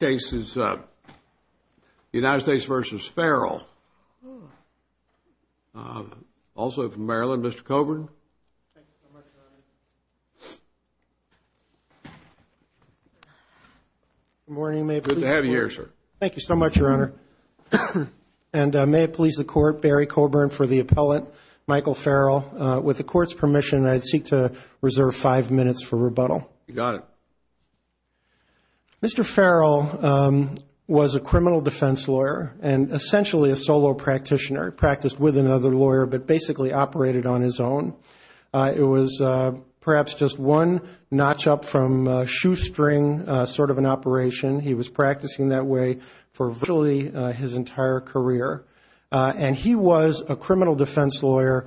The United States v. Farrell, also from Maryland, Mr. Coburn. Thank you so much, Your Honor. Good morning. May it please the Court. Good to have you here, sir. Thank you so much, Your Honor. And may it please the Court, Barry Coburn for the appellate, Michael Farrell. With the Court's permission, I seek to reserve five minutes for rebuttal. You got it. Mr. Farrell was a criminal defense lawyer and essentially a solo practitioner. He practiced with another lawyer but basically operated on his own. It was perhaps just one notch up from shoestring sort of an operation. He was practicing that way for virtually his entire career. And he was a criminal defense lawyer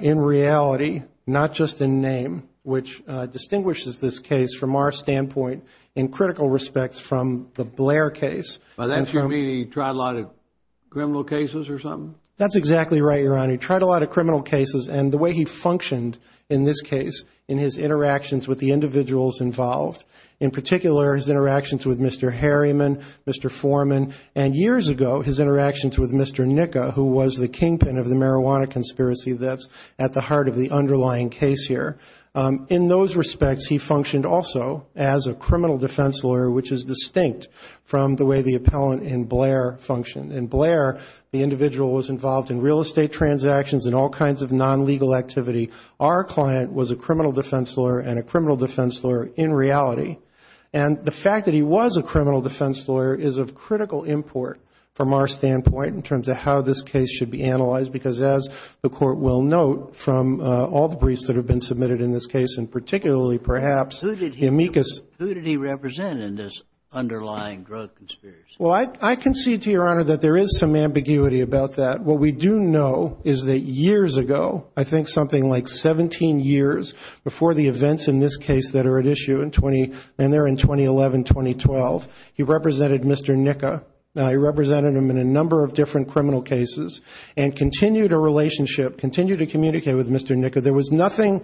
in reality, not just in name, which distinguishes this case from our standpoint in critical respects from the Blair case. By that you mean he tried a lot of criminal cases or something? That's exactly right, Your Honor. He tried a lot of criminal cases and the way he functioned in this case, in his interactions with the individuals involved, in particular his interactions with Mr. Harriman, Mr. Foreman, and years ago his interactions with Mr. Nica, who was the kingpin of the marijuana conspiracy that's at the heart of the underlying case here. In those respects, he functioned also as a criminal defense lawyer, which is distinct from the way the appellant in Blair functioned. In Blair, the individual was involved in real estate transactions and all kinds of non-legal activity. Our client was a criminal defense lawyer and a criminal defense lawyer in reality. And the fact that he was a criminal defense lawyer is of critical import from our standpoint in terms of how this case should be analyzed because, as the Court will note, from all the briefs that have been submitted in this case and particularly perhaps amicus. Who did he represent in this underlying drug conspiracy? Well, I concede to Your Honor that there is some ambiguity about that. What we do know is that years ago, I think something like 17 years, before the events in this case that are at issue in 2011-2012, he represented Mr. Nica. He represented him in a number of different criminal cases and continued a relationship, continued to communicate with Mr. Nica. There was nothing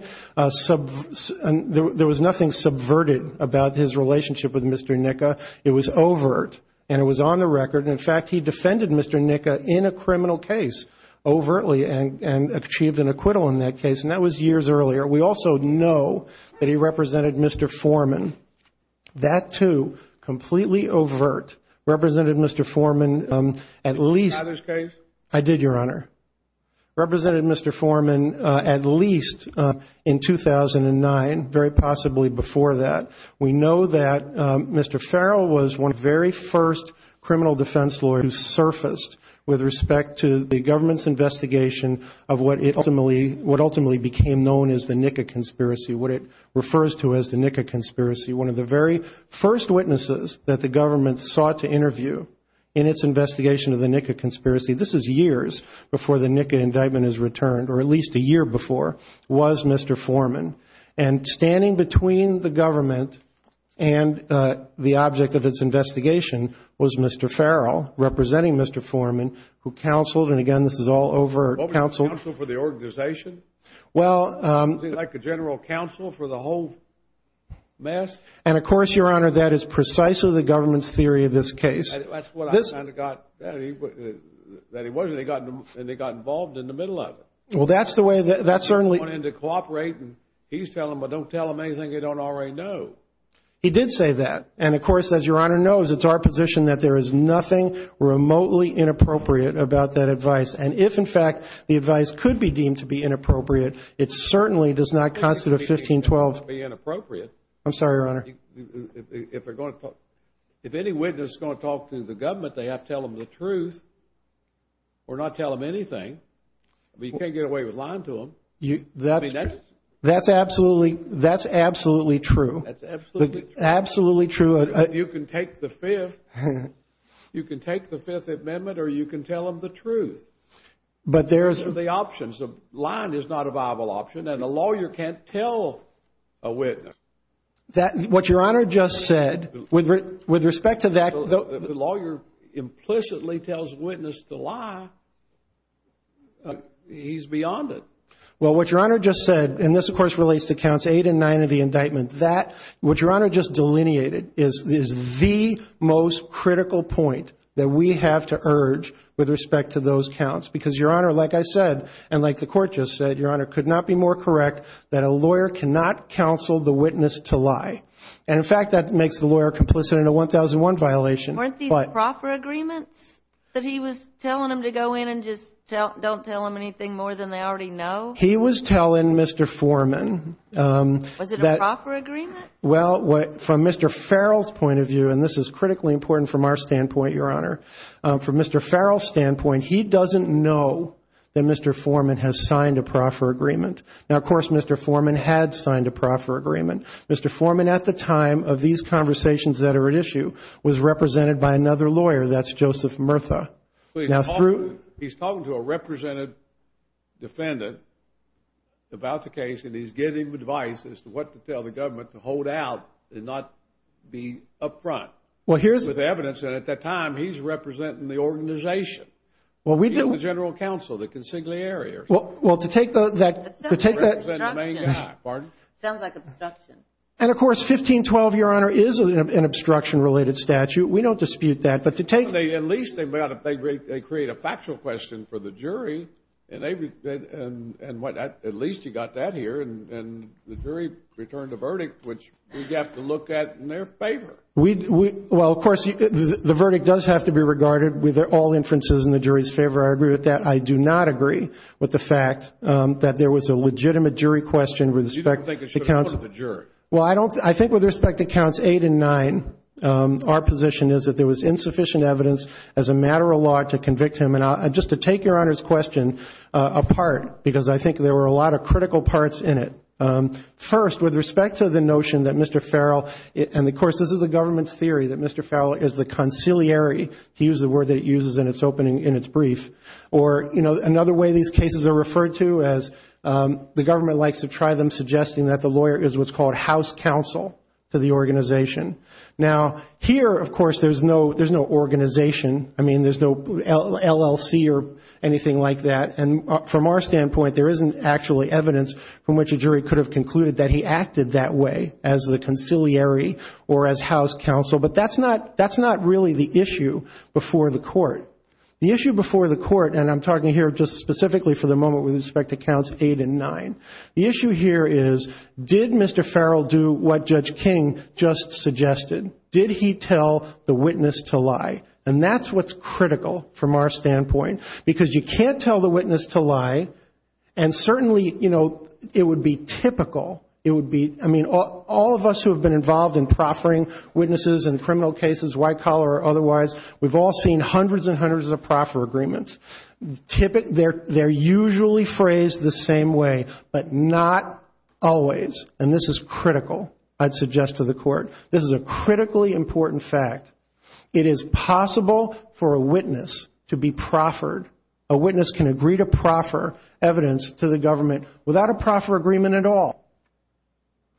subverted about his relationship with Mr. Nica. It was overt, and it was on the record. In fact, he defended Mr. Nica in a criminal case overtly and achieved an acquittal in that case, and that was years earlier. We also know that he represented Mr. Foreman. That, too, completely overt. Represented Mr. Foreman at least. Did you have this case? I did, Your Honor. Represented Mr. Foreman at least in 2009, very possibly before that. We know that Mr. Farrell was one of the very first criminal defense lawyers who surfaced with respect to the government's investigation of what ultimately became known as the Nica conspiracy, what it refers to as the Nica conspiracy. One of the very first witnesses that the government sought to interview in its investigation of the Nica conspiracy, this is years before the Nica indictment is returned, or at least a year before, was Mr. Foreman. And standing between the government and the object of its investigation was Mr. Farrell, representing Mr. Foreman, who counseled, and again, this is all overt. Counseled for the organization? Well. Was he like a general counsel for the whole mess? And, of course, Your Honor, that is precisely the government's theory of this case. That's what I kind of got that he wasn't, and he got involved in the middle of it. Well, that's the way that certainly. He wanted to cooperate, and he's telling them, but don't tell them anything they don't already know. He did say that. And, of course, as Your Honor knows, it's our position that there is nothing remotely inappropriate about that advice. And if, in fact, the advice could be deemed to be inappropriate, it certainly does not constitute a 1512. It doesn't have to be inappropriate. I'm sorry, Your Honor. If any witness is going to talk to the government, they have to tell them the truth or not tell them anything. I mean, you can't get away with lying to them. I mean, that's true. That's absolutely true. That's absolutely true. Absolutely true. You can take the Fifth Amendment or you can tell them the truth. But there is. Those are the options. Lying is not a viable option, and a lawyer can't tell a witness. What Your Honor just said, with respect to that. If a lawyer implicitly tells a witness to lie, he's beyond it. Well, what Your Honor just said, and this, of course, relates to Counts 8 and 9 of the indictment. What Your Honor just delineated is the most critical point that we have to urge with respect to those counts. Because, Your Honor, like I said, and like the Court just said, Your Honor, it could not be more correct that a lawyer cannot counsel the witness to lie. And, in fact, that makes the lawyer complicit in a 1001 violation. Weren't these proper agreements that he was telling them to go in and just don't tell them anything more than they already know? He was telling Mr. Foreman. Was it a proper agreement? Well, from Mr. Farrell's point of view, and this is critically important from our standpoint, Your Honor, from Mr. Farrell's standpoint, he doesn't know that Mr. Foreman has signed a proper agreement. Now, of course, Mr. Foreman had signed a proper agreement. Mr. Foreman, at the time of these conversations that are at issue, was represented by another lawyer. That's Joseph Murtha. He's talking to a represented defendant about the case, and he's giving advice as to what to tell the government to hold out and not be up front with evidence. And, at that time, he's representing the organization. He's the general counsel, the consigliere. Well, to take that – Sounds like obstruction. And, of course, 1512, Your Honor, is an obstruction-related statute. We don't dispute that. But to take – At least they create a factual question for the jury, and at least you got that here, and the jury returned a verdict, which we have to look at in their favor. Well, of course, the verdict does have to be regarded with all inferences in the jury's favor. I agree with that. I do not agree with the fact that there was a legitimate jury question with respect to – You don't think it should have looked at the jury. Well, I think with respect to Counts 8 and 9, our position is that there was insufficient evidence as a matter of law to convict him. And just to take Your Honor's question apart, because I think there were a lot of critical parts in it. First, with respect to the notion that Mr. Farrell – and, of course, this is the government's theory that Mr. Farrell is the consigliere. He used the word that it uses in its opening, in its brief. Or, you know, another way these cases are referred to is the government likes to try them, to the organization. Now, here, of course, there's no organization. I mean, there's no LLC or anything like that. And from our standpoint, there isn't actually evidence from which a jury could have concluded that he acted that way, as the consigliere or as house counsel. But that's not really the issue before the court. The issue before the court, and I'm talking here just specifically for the moment with respect to Counts 8 and 9. The issue here is, did Mr. Farrell do what Judge King just suggested? Did he tell the witness to lie? And that's what's critical from our standpoint, because you can't tell the witness to lie, and certainly, you know, it would be typical. It would be – I mean, all of us who have been involved in proffering witnesses in criminal cases, white collar or otherwise, we've all seen hundreds and hundreds of proffer agreements. They're usually phrased the same way, but not always. And this is critical, I'd suggest to the court. This is a critically important fact. It is possible for a witness to be proffered. A witness can agree to proffer evidence to the government without a proffer agreement at all.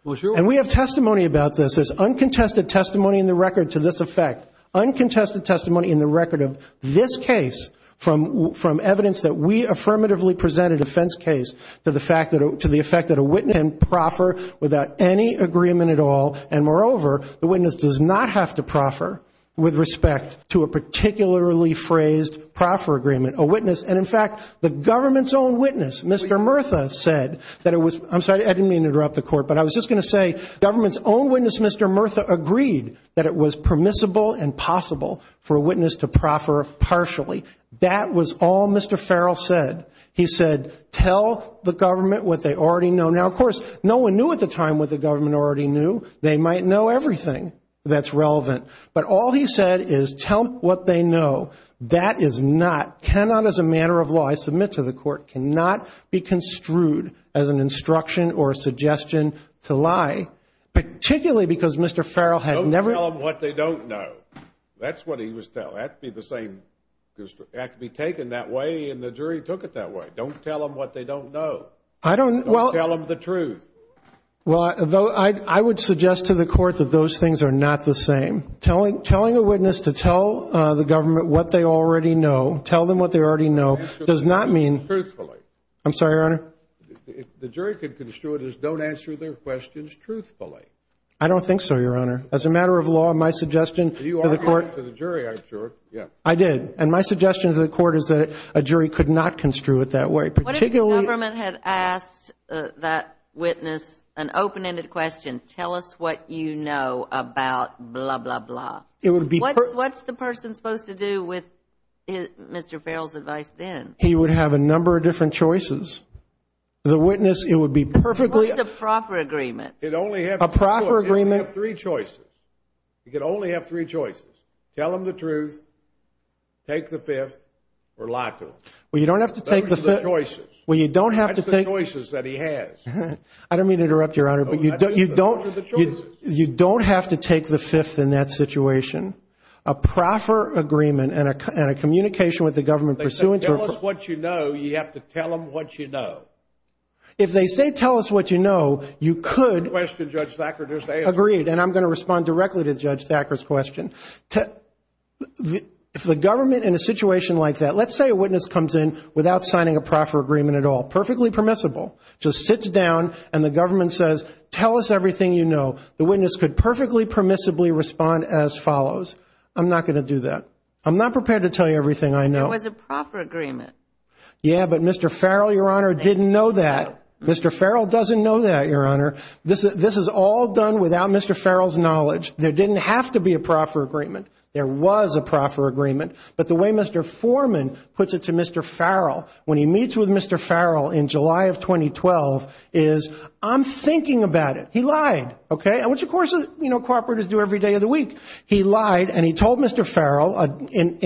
And we have testimony about this. There's uncontested testimony in the record to this effect. Uncontested testimony in the record of this case from evidence that we affirmatively presented a defense case to the fact that a witness can proffer without any agreement at all, and moreover, the witness does not have to proffer with respect to a particularly phrased proffer agreement. A witness – and in fact, the government's own witness, Mr. Murtha, said that it was – I'm sorry, I didn't mean to interrupt the court, but I was just going to say, the government's own witness, Mr. Murtha, agreed that it was permissible and possible for a witness to proffer partially. That was all Mr. Farrell said. He said, tell the government what they already know. Now, of course, no one knew at the time what the government already knew. They might know everything that's relevant. But all he said is, tell them what they know. That is not – cannot, as a matter of law, I submit to the court, cannot be construed as an instruction or a suggestion to lie, particularly because Mr. Farrell had never – Don't tell them what they don't know. That's what he was telling. It had to be the same – it had to be taken that way, and the jury took it that way. Don't tell them what they don't know. I don't – well – Don't tell them the truth. Well, I would suggest to the court that those things are not the same. Telling a witness to tell the government what they already know, tell them what they already know, does not mean – Truthfully. I'm sorry, Your Honor? The jury could construe it as don't answer their questions truthfully. I don't think so, Your Honor. As a matter of law, my suggestion to the court – You argued to the jury, I'm sure. I did. And my suggestion to the court is that a jury could not construe it that way, particularly – What if the government had asked that witness an open-ended question, tell us what you know about blah, blah, blah? It would be – What's the person supposed to do with Mr. Farrell's advice then? He would have a number of different choices. The witness, it would be perfectly – What is a proper agreement? A proper agreement – He'd only have three choices. He could only have three choices. Tell him the truth, take the fifth, or lock him. Well, you don't have to take the – Those are the choices. Well, you don't have to take – That's the choices that he has. I don't mean to interrupt, Your Honor, but you don't – Those are the choices. You don't have to take the fifth in that situation. A proper agreement and a communication with the government pursuant to – If they say tell us what you know, you have to tell them what you know. If they say tell us what you know, you could – Good question, Judge Thacker. Just answer it. Agreed, and I'm going to respond directly to Judge Thacker's question. If the government in a situation like that – let's say a witness comes in without signing a proper agreement at all, perfectly permissible, just sits down and the government says tell us everything you know, the witness could perfectly permissibly respond as follows. I'm not going to do that. I'm not prepared to tell you everything I know. It was a proper agreement. Yeah, but Mr. Farrell, Your Honor, didn't know that. Mr. Farrell doesn't know that, Your Honor. This is all done without Mr. Farrell's knowledge. There didn't have to be a proper agreement. There was a proper agreement, but the way Mr. Foreman puts it to Mr. Farrell when he meets with Mr. Farrell in July of 2012 is I'm thinking about it. He lied, okay, which, of course, you know, corporators do every day of the week. He lied and he told Mr. Farrell, in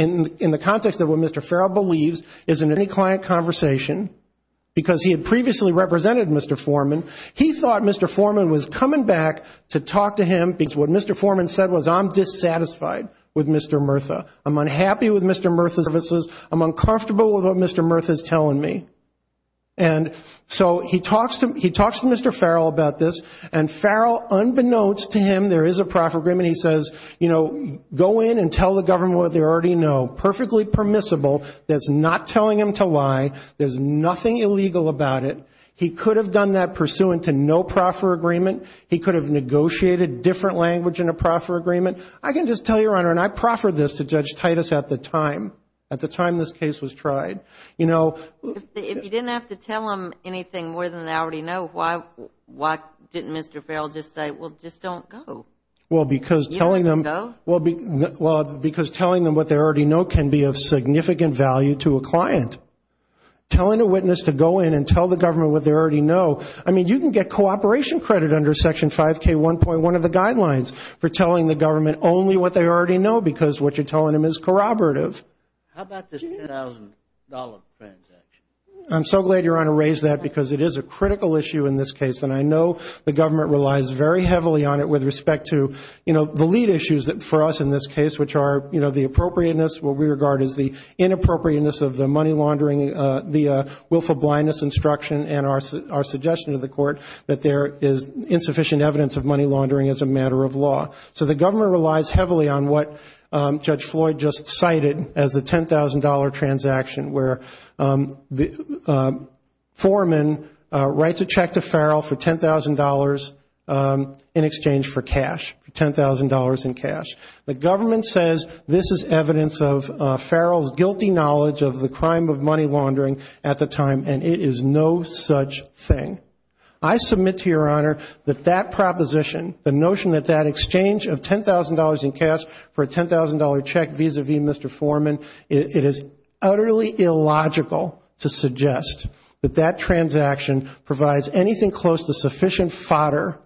the context of what Mr. Farrell believes, is in any client conversation because he had previously represented Mr. Foreman, he thought Mr. Foreman was coming back to talk to him because what Mr. Foreman said was I'm dissatisfied with Mr. Murtha. I'm unhappy with Mr. Murtha's services. I'm uncomfortable with what Mr. Murtha is telling me. And so he talks to Mr. Farrell about this and Farrell, unbeknownst to him, there is a proper agreement. He says, you know, go in and tell the government what they already know. Perfectly permissible. That's not telling him to lie. There's nothing illegal about it. He could have done that pursuant to no proper agreement. He could have negotiated different language in a proper agreement. I can just tell you, Your Honor, and I proffered this to Judge Titus at the time, at the time this case was tried, you know. If you didn't have to tell him anything more than I already know, why didn't Mr. Farrell just say, well, just don't go? Well, because telling them what they already know can be of significant value to a client. Telling a witness to go in and tell the government what they already know, I mean, you can get cooperation credit under Section 5K1.1 of the guidelines for telling the government only what they already know because what you're telling them is corroborative. How about this $10,000 transaction? I'm so glad Your Honor raised that because it is a critical issue in this case, and I know the government relies very heavily on it with respect to, you know, the lead issues for us in this case, which are, you know, the appropriateness, what we regard as the inappropriateness of the money laundering, the willful blindness instruction and our suggestion to the court that there is insufficient evidence of money laundering as a matter of law. So the government relies heavily on what Judge Floyd just cited as the $10,000 transaction, where Foreman writes a check to Farrell for $10,000 in exchange for cash, $10,000 in cash. The government says this is evidence of Farrell's guilty knowledge of the crime of money laundering at the time, and it is no such thing. I submit to Your Honor that that proposition, the notion that that exchange of $10,000 in cash for a $10,000 check vis-a-vis Mr. Foreman, it is utterly illogical to suggest that that transaction provides anything close to sufficient fodder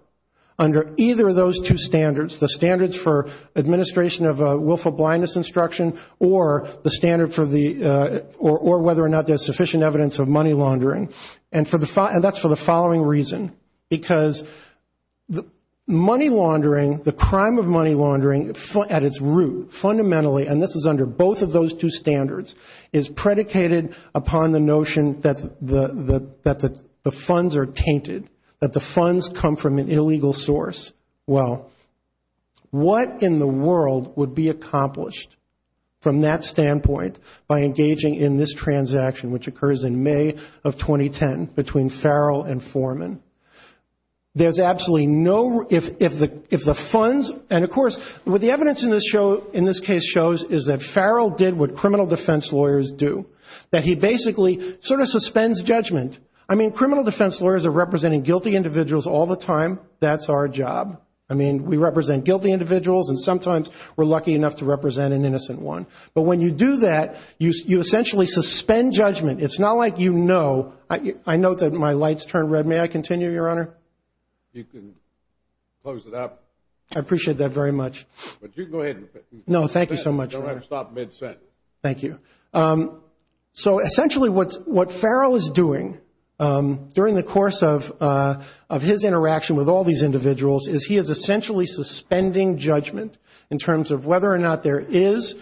under either of those two standards, the standards for administration of a willful blindness instruction or the standard for the or whether or not there's sufficient evidence of money laundering. And that's for the following reason, because money laundering, the crime of money laundering at its root, fundamentally, and this is under both of those two standards, is predicated upon the notion that the funds are tainted, that the funds come from an illegal source. Well, what in the world would be accomplished from that standpoint by engaging in this transaction, which occurs in May of 2010 between Farrell and Foreman? There's absolutely no, if the funds, and of course, what the evidence in this case shows is that Farrell did what criminal defense lawyers do, that he basically sort of suspends judgment. I mean, criminal defense lawyers are representing guilty individuals all the time. That's our job. I mean, we represent guilty individuals, and sometimes we're lucky enough to represent an innocent one. But when you do that, you essentially suspend judgment. It's not like you know. I note that my light's turned red. May I continue, Your Honor? You can close it up. I appreciate that very much. But you can go ahead. No, thank you so much. You don't have to stop mid-sent. Thank you. So essentially what Farrell is doing during the course of his interaction with all these individuals is he is essentially suspending judgment in terms of whether or not there is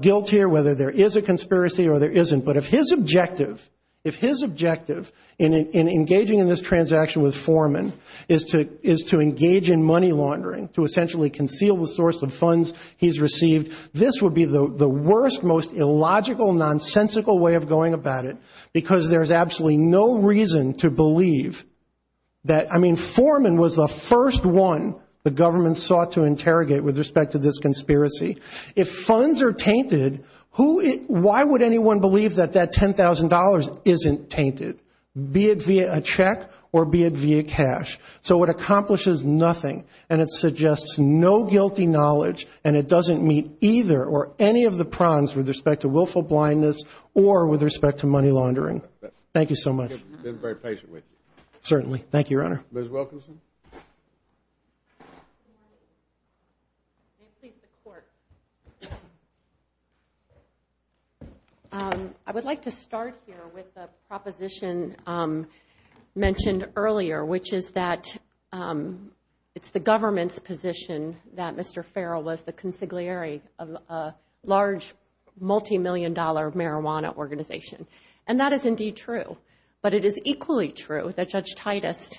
guilt here, whether there is a conspiracy or there isn't. But if his objective in engaging in this transaction with Foreman is to engage in money laundering, to essentially conceal the source of funds he's received, this would be the worst, most illogical, nonsensical way of going about it, because there's absolutely no reason to believe that, I mean, Foreman was the first one the government sought to interrogate with respect to this conspiracy. If funds are tainted, why would anyone believe that that $10,000 isn't tainted, be it via a check or be it via cash? So it accomplishes nothing, and it suggests no guilty knowledge, and it doesn't meet either or any of the prongs with respect to willful blindness or with respect to money laundering. Thank you so much. I've been very patient with you. Certainly. Thank you, Your Honor. Ms. Wilkinson? May it please the Court. I would like to start here with the proposition mentioned earlier, which is that it's the government's position that Mr. Farrell was the consigliere of a large, multimillion-dollar marijuana organization. And that is indeed true. But it is equally true that Judge Titus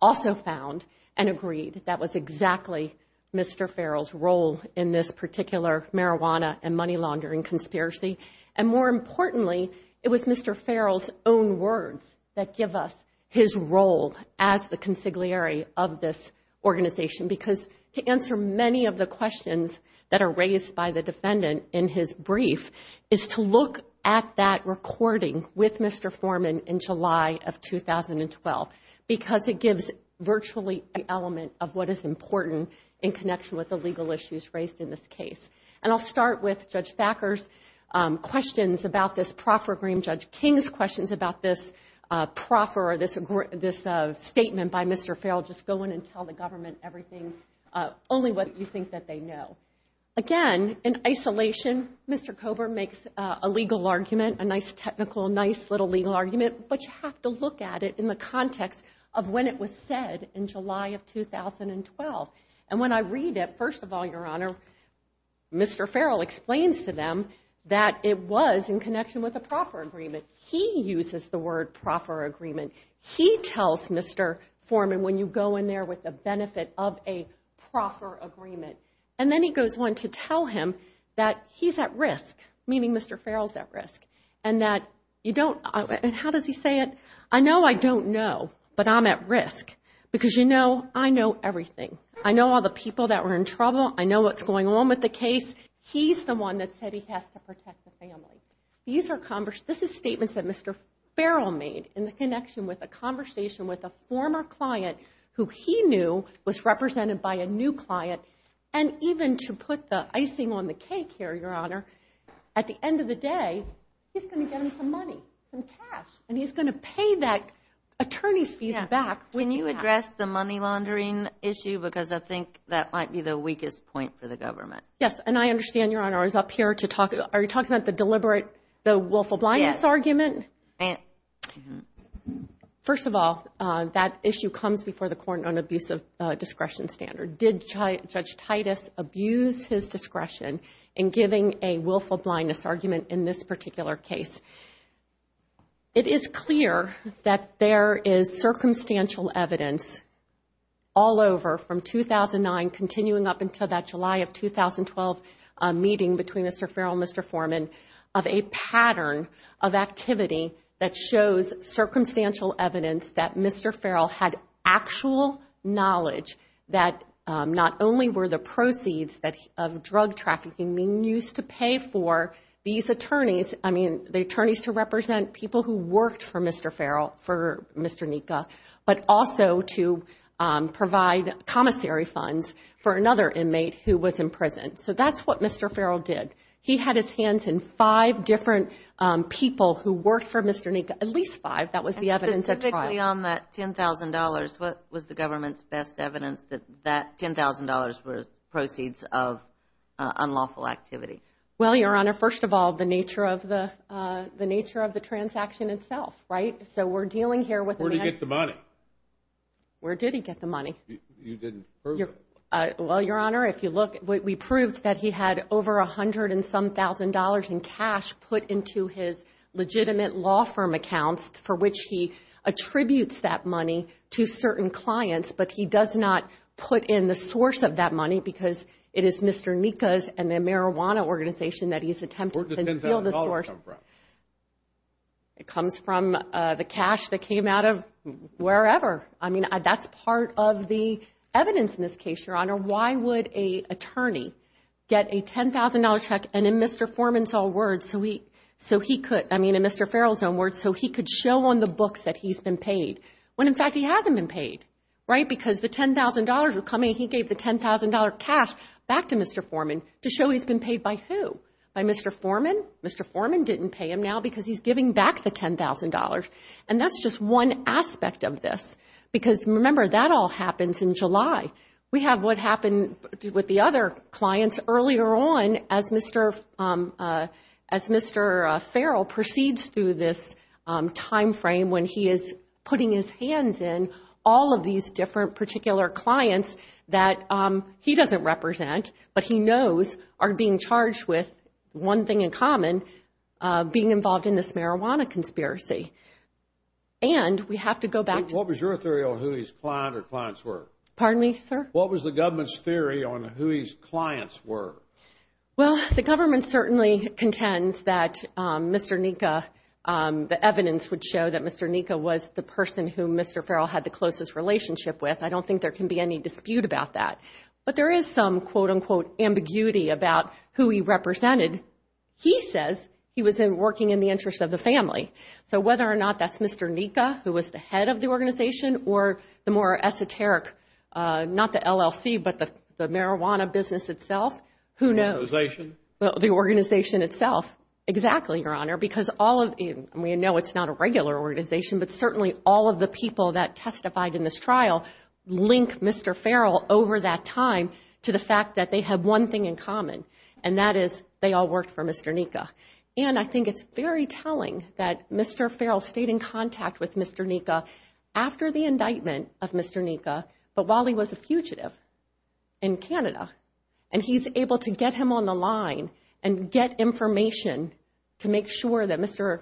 also found and agreed that was exactly Mr. Farrell's role in this particular marijuana and money laundering conspiracy. And more importantly, it was Mr. Farrell's own words that give us his role as the consigliere of this organization, because to answer many of the questions that are raised by the defendant in his brief is to look at that recording with Mr. Foreman in July of 2012, because it gives virtually an element of what is important in connection with the legal issues raised in this case. And I'll start with Judge Thacker's questions about this proffer agreement, Judge King's questions about this proffer, this statement by Mr. Farrell, just go in and tell the government everything, only what you think that they know. Again, in isolation, Mr. Kober makes a legal argument, a nice technical, nice little legal argument, but you have to look at it in the context of when it was said in July of 2012. And when I read it, first of all, Your Honor, Mr. Farrell explains to them that it was in connection with a proffer agreement. He uses the word proffer agreement. He tells Mr. Foreman when you go in there with the benefit of a proffer agreement. And then he goes on to tell him that he's at risk, meaning Mr. Farrell's at risk, and that you don't – and how does he say it? I know I don't know, but I'm at risk, because you know I know everything. I know all the people that were in trouble. I know what's going on with the case. He's the one that said he has to protect the family. These are – this is statements that Mr. Farrell made in the connection with a conversation with a former client who he knew was represented by a new client. And even to put the icing on the cake here, Your Honor, at the end of the day, he's going to get him some money, some cash, and he's going to pay that attorney's fees back. Can you address the money laundering issue? Because I think that might be the weakest point for the government. Yes, and I understand, Your Honor, I was up here to talk – are you talking about the deliberate – the wolf of blindness argument? Yes. First of all, that issue comes before the court on abuse of discretion standard. Did Judge Titus abuse his discretion in giving a willful blindness argument in this particular case? It is clear that there is circumstantial evidence all over from 2009, continuing up until that July of 2012 meeting between Mr. Farrell and Mr. Foreman, of a pattern of activity that shows circumstantial evidence that Mr. Farrell had actual knowledge that not only were the proceeds of drug trafficking being used to pay for these attorneys – I mean, the attorneys to represent people who worked for Mr. Farrell, for Mr. Nika – but also to provide commissary funds for another inmate who was in prison. So that's what Mr. Farrell did. He had his hands in five different people who worked for Mr. Nika, at least five. That was the evidence at trial. And specifically on that $10,000, what was the government's best evidence that that $10,000 were proceeds of unlawful activity? Well, Your Honor, first of all, the nature of the transaction itself, right? So we're dealing here with – Where did he get the money? Where did he get the money? You didn't prove it. Well, Your Honor, if you look, we proved that he had over $100,000 in cash put into his legitimate law firm accounts for which he attributes that money to certain clients, but he does not put in the source of that money because it is Mr. Nika's and the marijuana organization that he's attempting to conceal the source. Where did the $10,000 come from? It comes from the cash that came out of wherever. I mean, that's part of the evidence in this case, Your Honor. Why would an attorney get a $10,000 check and in Mr. Foreman's own words, so he could – I mean, in Mr. Farrell's own words, so he could show on the books that he's been paid when, in fact, he hasn't been paid, right? Because the $10,000 were coming. He gave the $10,000 cash back to Mr. Foreman to show he's been paid by who? By Mr. Foreman? Mr. Foreman didn't pay him now because he's giving back the $10,000. And that's just one aspect of this because, remember, that all happens in July. We have what happened with the other clients earlier on as Mr. Farrell proceeds through this timeframe when he is putting his hands in all of these different particular clients that he doesn't represent, but he knows are being charged with one thing in common, being involved in this marijuana conspiracy. And we have to go back to – What was your theory on who his client or clients were? Pardon me, sir? What was the government's theory on who his clients were? Well, the government certainly contends that Mr. Nika – the evidence would show that Mr. Nika was the person who Mr. Farrell had the closest relationship with. I don't think there can be any dispute about that. But there is some, quote-unquote, ambiguity about who he represented. He says he was working in the interest of the family. So whether or not that's Mr. Nika, who was the head of the organization, or the more esoteric – not the LLC, but the marijuana business itself, who knows? The organization? The organization itself. Exactly, Your Honor, because all of – I mean, I know it's not a regular organization, but certainly all of the people that testified in this trial link Mr. Farrell over that time to the fact that they have one thing in common, and that is they all worked for Mr. Nika. And I think it's very telling that Mr. Farrell stayed in contact with Mr. Nika after the indictment of Mr. Nika, but while he was a fugitive in Canada. And he's able to get him on the line and get information to make sure that Mr.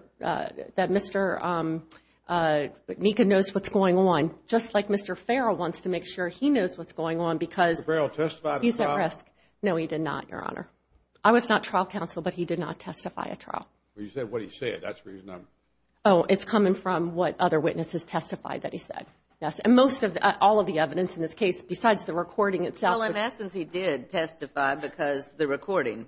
Nika knows what's going on, just like Mr. Farrell wants to make sure he knows what's going on because he's at risk. Did Farrell testify to the trial? No, he did not, Your Honor. I was not trial counsel, but he did not testify at trial. Well, you said what he said. That's the reason I'm – Oh, it's coming from what other witnesses testified that he said. And most of – all of the evidence in this case, besides the recording itself – He did testify because the recording.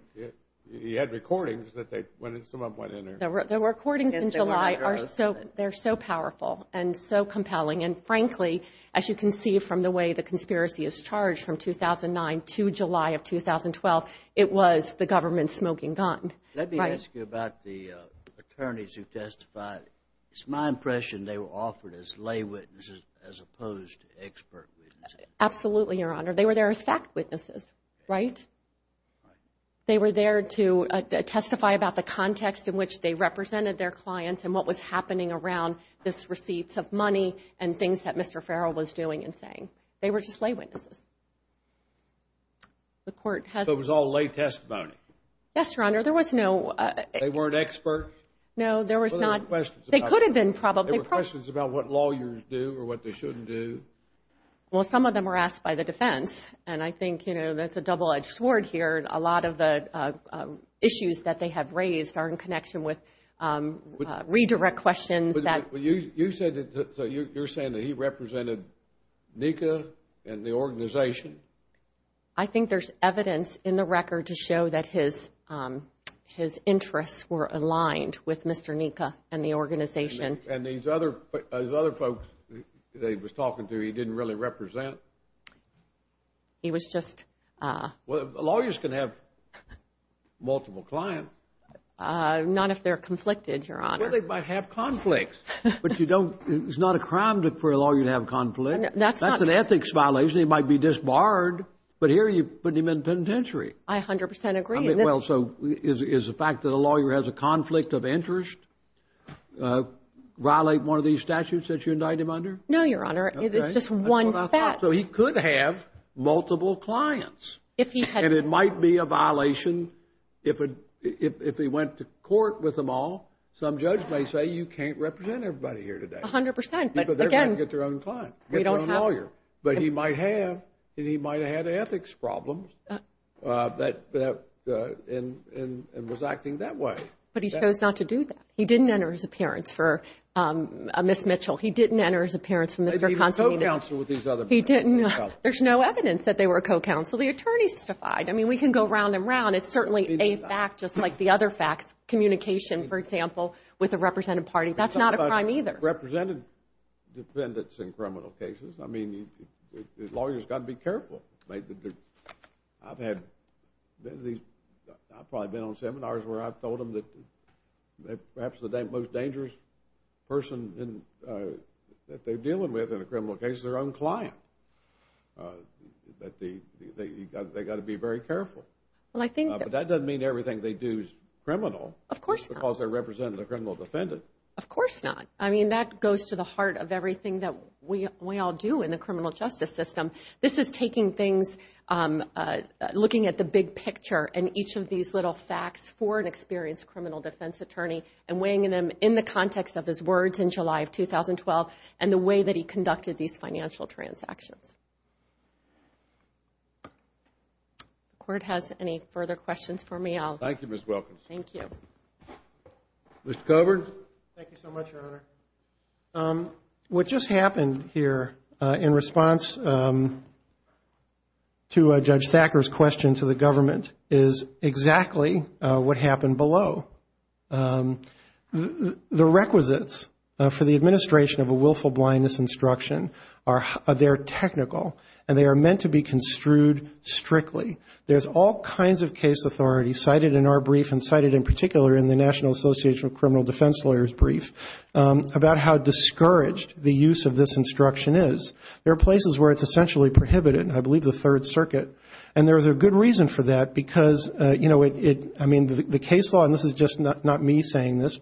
He had recordings that they – some of them went in there. The recordings in July are so – they're so powerful and so compelling, and frankly, as you can see from the way the conspiracy is charged from 2009 to July of 2012, it was the government smoking gun. Let me ask you about the attorneys who testified. It's my impression they were offered as lay witnesses as opposed to expert witnesses. Absolutely, Your Honor. They were there as fact witnesses, right? They were there to testify about the context in which they represented their clients and what was happening around these receipts of money and things that Mr. Farrell was doing and saying. They were just lay witnesses. The court has – So it was all lay testimony? Yes, Your Honor. There was no – They weren't experts? No, there was not – Well, there were questions about – They could have been probably – There were questions about what lawyers do or what they shouldn't do. Well, some of them were asked by the defense, and I think, you know, that's a double-edged sword here. A lot of the issues that they have raised are in connection with redirect questions that – You said that – so you're saying that he represented NICA and the organization? I think there's evidence in the record to show that his interests were aligned with Mr. NICA and the organization. And these other folks that he was talking to, he didn't really represent? He was just – Well, lawyers can have multiple clients. Not if they're conflicted, Your Honor. Well, they might have conflicts. But you don't – it's not a crime for a lawyer to have conflicts. That's not – That's an ethics violation. It might be disbarred. But here you're putting him in penitentiary. I 100 percent agree. Well, so is the fact that a lawyer has a conflict of interest violate one of these statutes that you indict him under? No, Your Honor. It's just one fact. Okay. That's what I thought. So he could have multiple clients. If he had – And it might be a violation if he went to court with them all. Some judge may say, you can't represent everybody here today. 100 percent. But, again – Because they're going to get their own client, get their own lawyer. But he might have. And he might have had ethics problems and was acting that way. But he chose not to do that. He didn't enter his appearance for Ms. Mitchell. He didn't enter his appearance for Mr. Consolino. Maybe he co-counseled with these other people. He didn't. There's no evidence that they were co-counseled. The attorneys testified. I mean, we can go round and round. It's certainly a fact, just like the other facts. Communication, for example, with a representative party. That's not a crime either. I've represented defendants in criminal cases. I mean, the lawyer's got to be careful. I've had – I've probably been on seminars where I've told them that perhaps the most dangerous person that they're dealing with in a criminal case is their own client. They've got to be very careful. Well, I think that – But that doesn't mean everything they do is criminal. Of course not. Because they're representing a criminal defendant. Of course not. I mean, that goes to the heart of everything that we all do in the criminal justice system. This is taking things, looking at the big picture, and each of these little facts for an experienced criminal defense attorney and weighing them in the context of his words in July of 2012 and the way that he conducted these financial transactions. If the Court has any further questions for me, I'll – Thank you, Ms. Wilkins. Thank you. Mr. Coburn? Thank you so much, Your Honor. What just happened here in response to Judge Thacker's question to the government is exactly what happened below. The requisites for the administration of a willful blindness instruction are – they're technical, and they are meant to be construed strictly. There's all kinds of case authority cited in our brief and cited in particular in the National Association of Criminal Defense Lawyers brief about how discouraged the use of this instruction is. There are places where it's essentially prohibited. I believe the Third Circuit. And there's a good reason for that because, you know, it – I mean, the case law – and this is just not me saying this,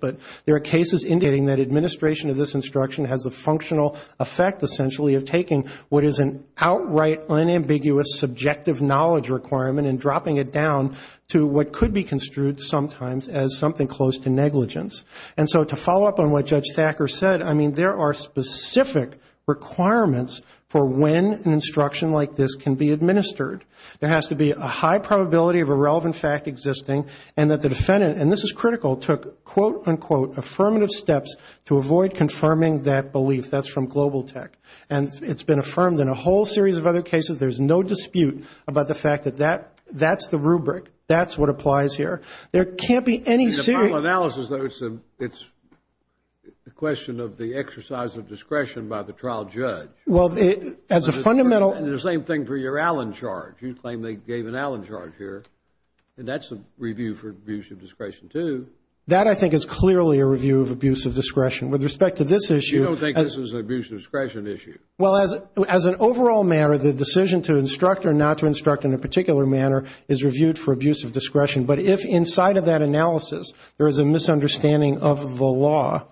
has the functional effect, essentially, of taking what is an outright, unambiguous, subjective knowledge requirement and dropping it down to what could be construed sometimes as something close to negligence. And so to follow up on what Judge Thacker said, I mean, there are specific requirements for when an instruction like this can be administered. There has to be a high probability of a relevant fact existing and that the defendant – and this is critical – took, quote, unquote, to avoid confirming that belief. That's from Global Tech. And it's been affirmed in a whole series of other cases. There's no dispute about the fact that that's the rubric. That's what applies here. There can't be any serious – In the final analysis, though, it's a question of the exercise of discretion by the trial judge. Well, as a fundamental – And the same thing for your Allen charge. You claim they gave an Allen charge here. And that's a review for abuse of discretion, too. That, I think, is clearly a review of abuse of discretion. With respect to this issue – You don't think this is an abuse of discretion issue? Well, as an overall matter, the decision to instruct or not to instruct in a particular manner is reviewed for abuse of discretion. But if inside of that analysis there is a misunderstanding of the law,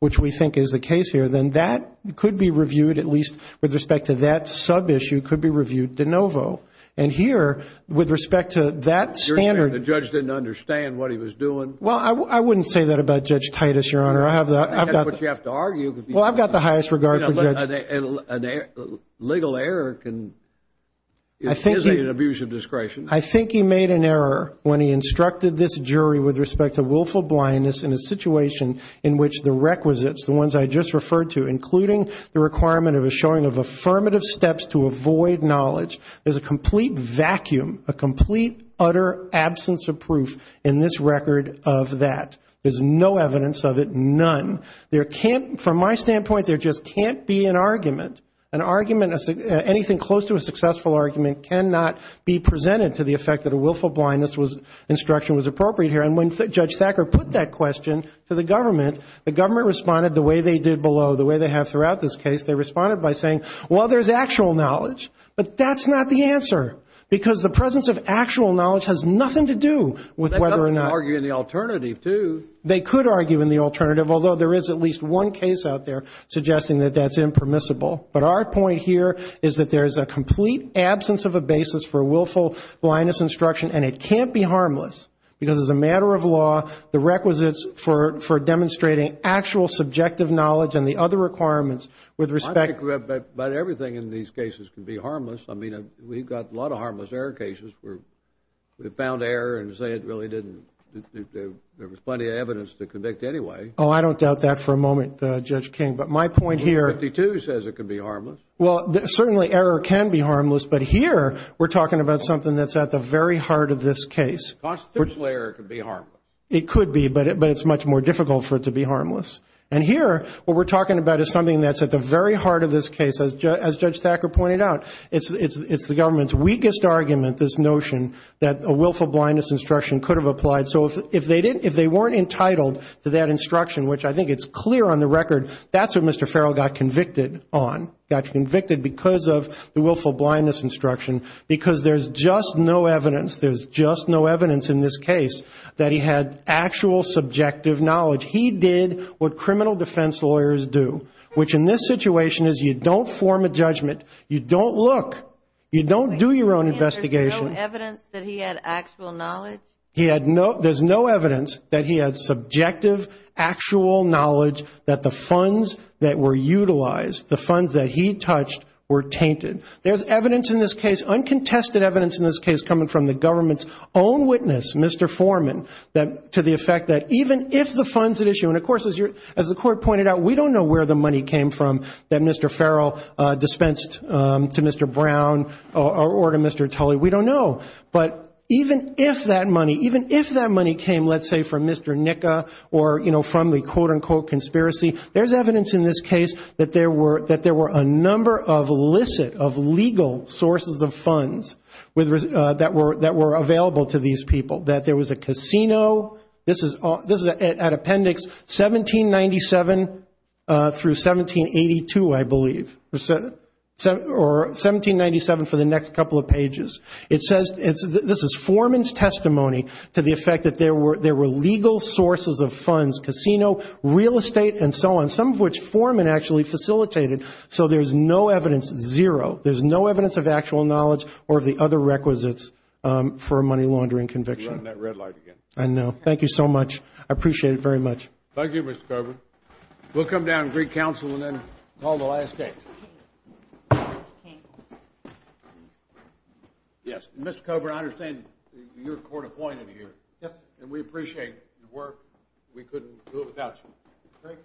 which we think is the case here, then that could be reviewed, at least with respect to that sub-issue, could be reviewed de novo. And here, with respect to that standard – The judge didn't understand what he was doing? Well, I wouldn't say that about Judge Titus, Your Honor. I have the – That's what you have to argue. Well, I've got the highest regard for Judge – A legal error can – I think he – Isn't an abuse of discretion. I think he made an error when he instructed this jury with respect to willful blindness in a situation in which the requisites, the ones I just referred to, including the requirement of a showing of affirmative steps to avoid knowledge, there's a complete vacuum, a complete, utter absence of proof in this record of that. There's no evidence of it, none. There can't – From my standpoint, there just can't be an argument. An argument, anything close to a successful argument, cannot be presented to the effect that a willful blindness instruction was appropriate here. And when Judge Thacker put that question to the government, the government responded the way they did below, the way they have throughout this case. They responded by saying, well, there's actual knowledge. But that's not the answer because the presence of actual knowledge has nothing to do with whether or not – They could argue in the alternative, too. They could argue in the alternative, although there is at least one case out there suggesting that that's impermissible. But our point here is that there is a complete absence of a basis for a willful blindness instruction, and it can't be harmless because as a matter of law, the requisites for demonstrating actual subjective knowledge and the other requirements with respect – But everything in these cases can be harmless. I mean, we've got a lot of harmless error cases where we found error and say it really didn't – there was plenty of evidence to convict anyway. Oh, I don't doubt that for a moment, Judge King. But my point here – Rule 52 says it can be harmless. Well, certainly error can be harmless, but here we're talking about something that's at the very heart of this case. Constitutional error can be harmless. It could be, but it's much more difficult for it to be harmless. And here what we're talking about is something that's at the very heart of this case. As Judge Thacker pointed out, it's the government's weakest argument, this notion that a willful blindness instruction could have applied. So if they weren't entitled to that instruction, which I think it's clear on the record, that's what Mr. Farrell got convicted on, got convicted because of the willful blindness instruction, because there's just no evidence. There's just no evidence in this case that he had actual subjective knowledge. He did what criminal defense lawyers do, which in this situation is you don't form a judgment. You don't look. You don't do your own investigation. You mean there's no evidence that he had actual knowledge? There's no evidence that he had subjective actual knowledge that the funds that were utilized, the funds that he touched, were tainted. There's evidence in this case, uncontested evidence in this case, coming from the government's own witness, Mr. Foreman, to the effect that even if the funds that issue, and, of course, as the Court pointed out, we don't know where the money came from that Mr. Farrell dispensed to Mr. Brown or to Mr. Tully. We don't know. But even if that money, even if that money came, let's say, from Mr. Nika or, you know, from the quote-unquote conspiracy, there's evidence in this case that there were a number of licit, of legal, sources of funds that were available to these people, that there was a casino. This is at Appendix 1797 through 1782, I believe, or 1797 for the next couple of pages. It says this is Foreman's testimony to the effect that there were legal sources of funds, casino, real estate, and so on, some of which Foreman actually facilitated. So there's no evidence, zero. There's no evidence of actual knowledge or of the other requisites for a money-laundering conviction. You're running that red light again. I know. Thank you so much. I appreciate it very much. Thank you, Mr. Coburn. We'll come down to Greek Council and then call the last case. Yes. Mr. Coburn, I understand you're court-appointed here. Yes. And we appreciate your work. We couldn't do it without you. Thank you.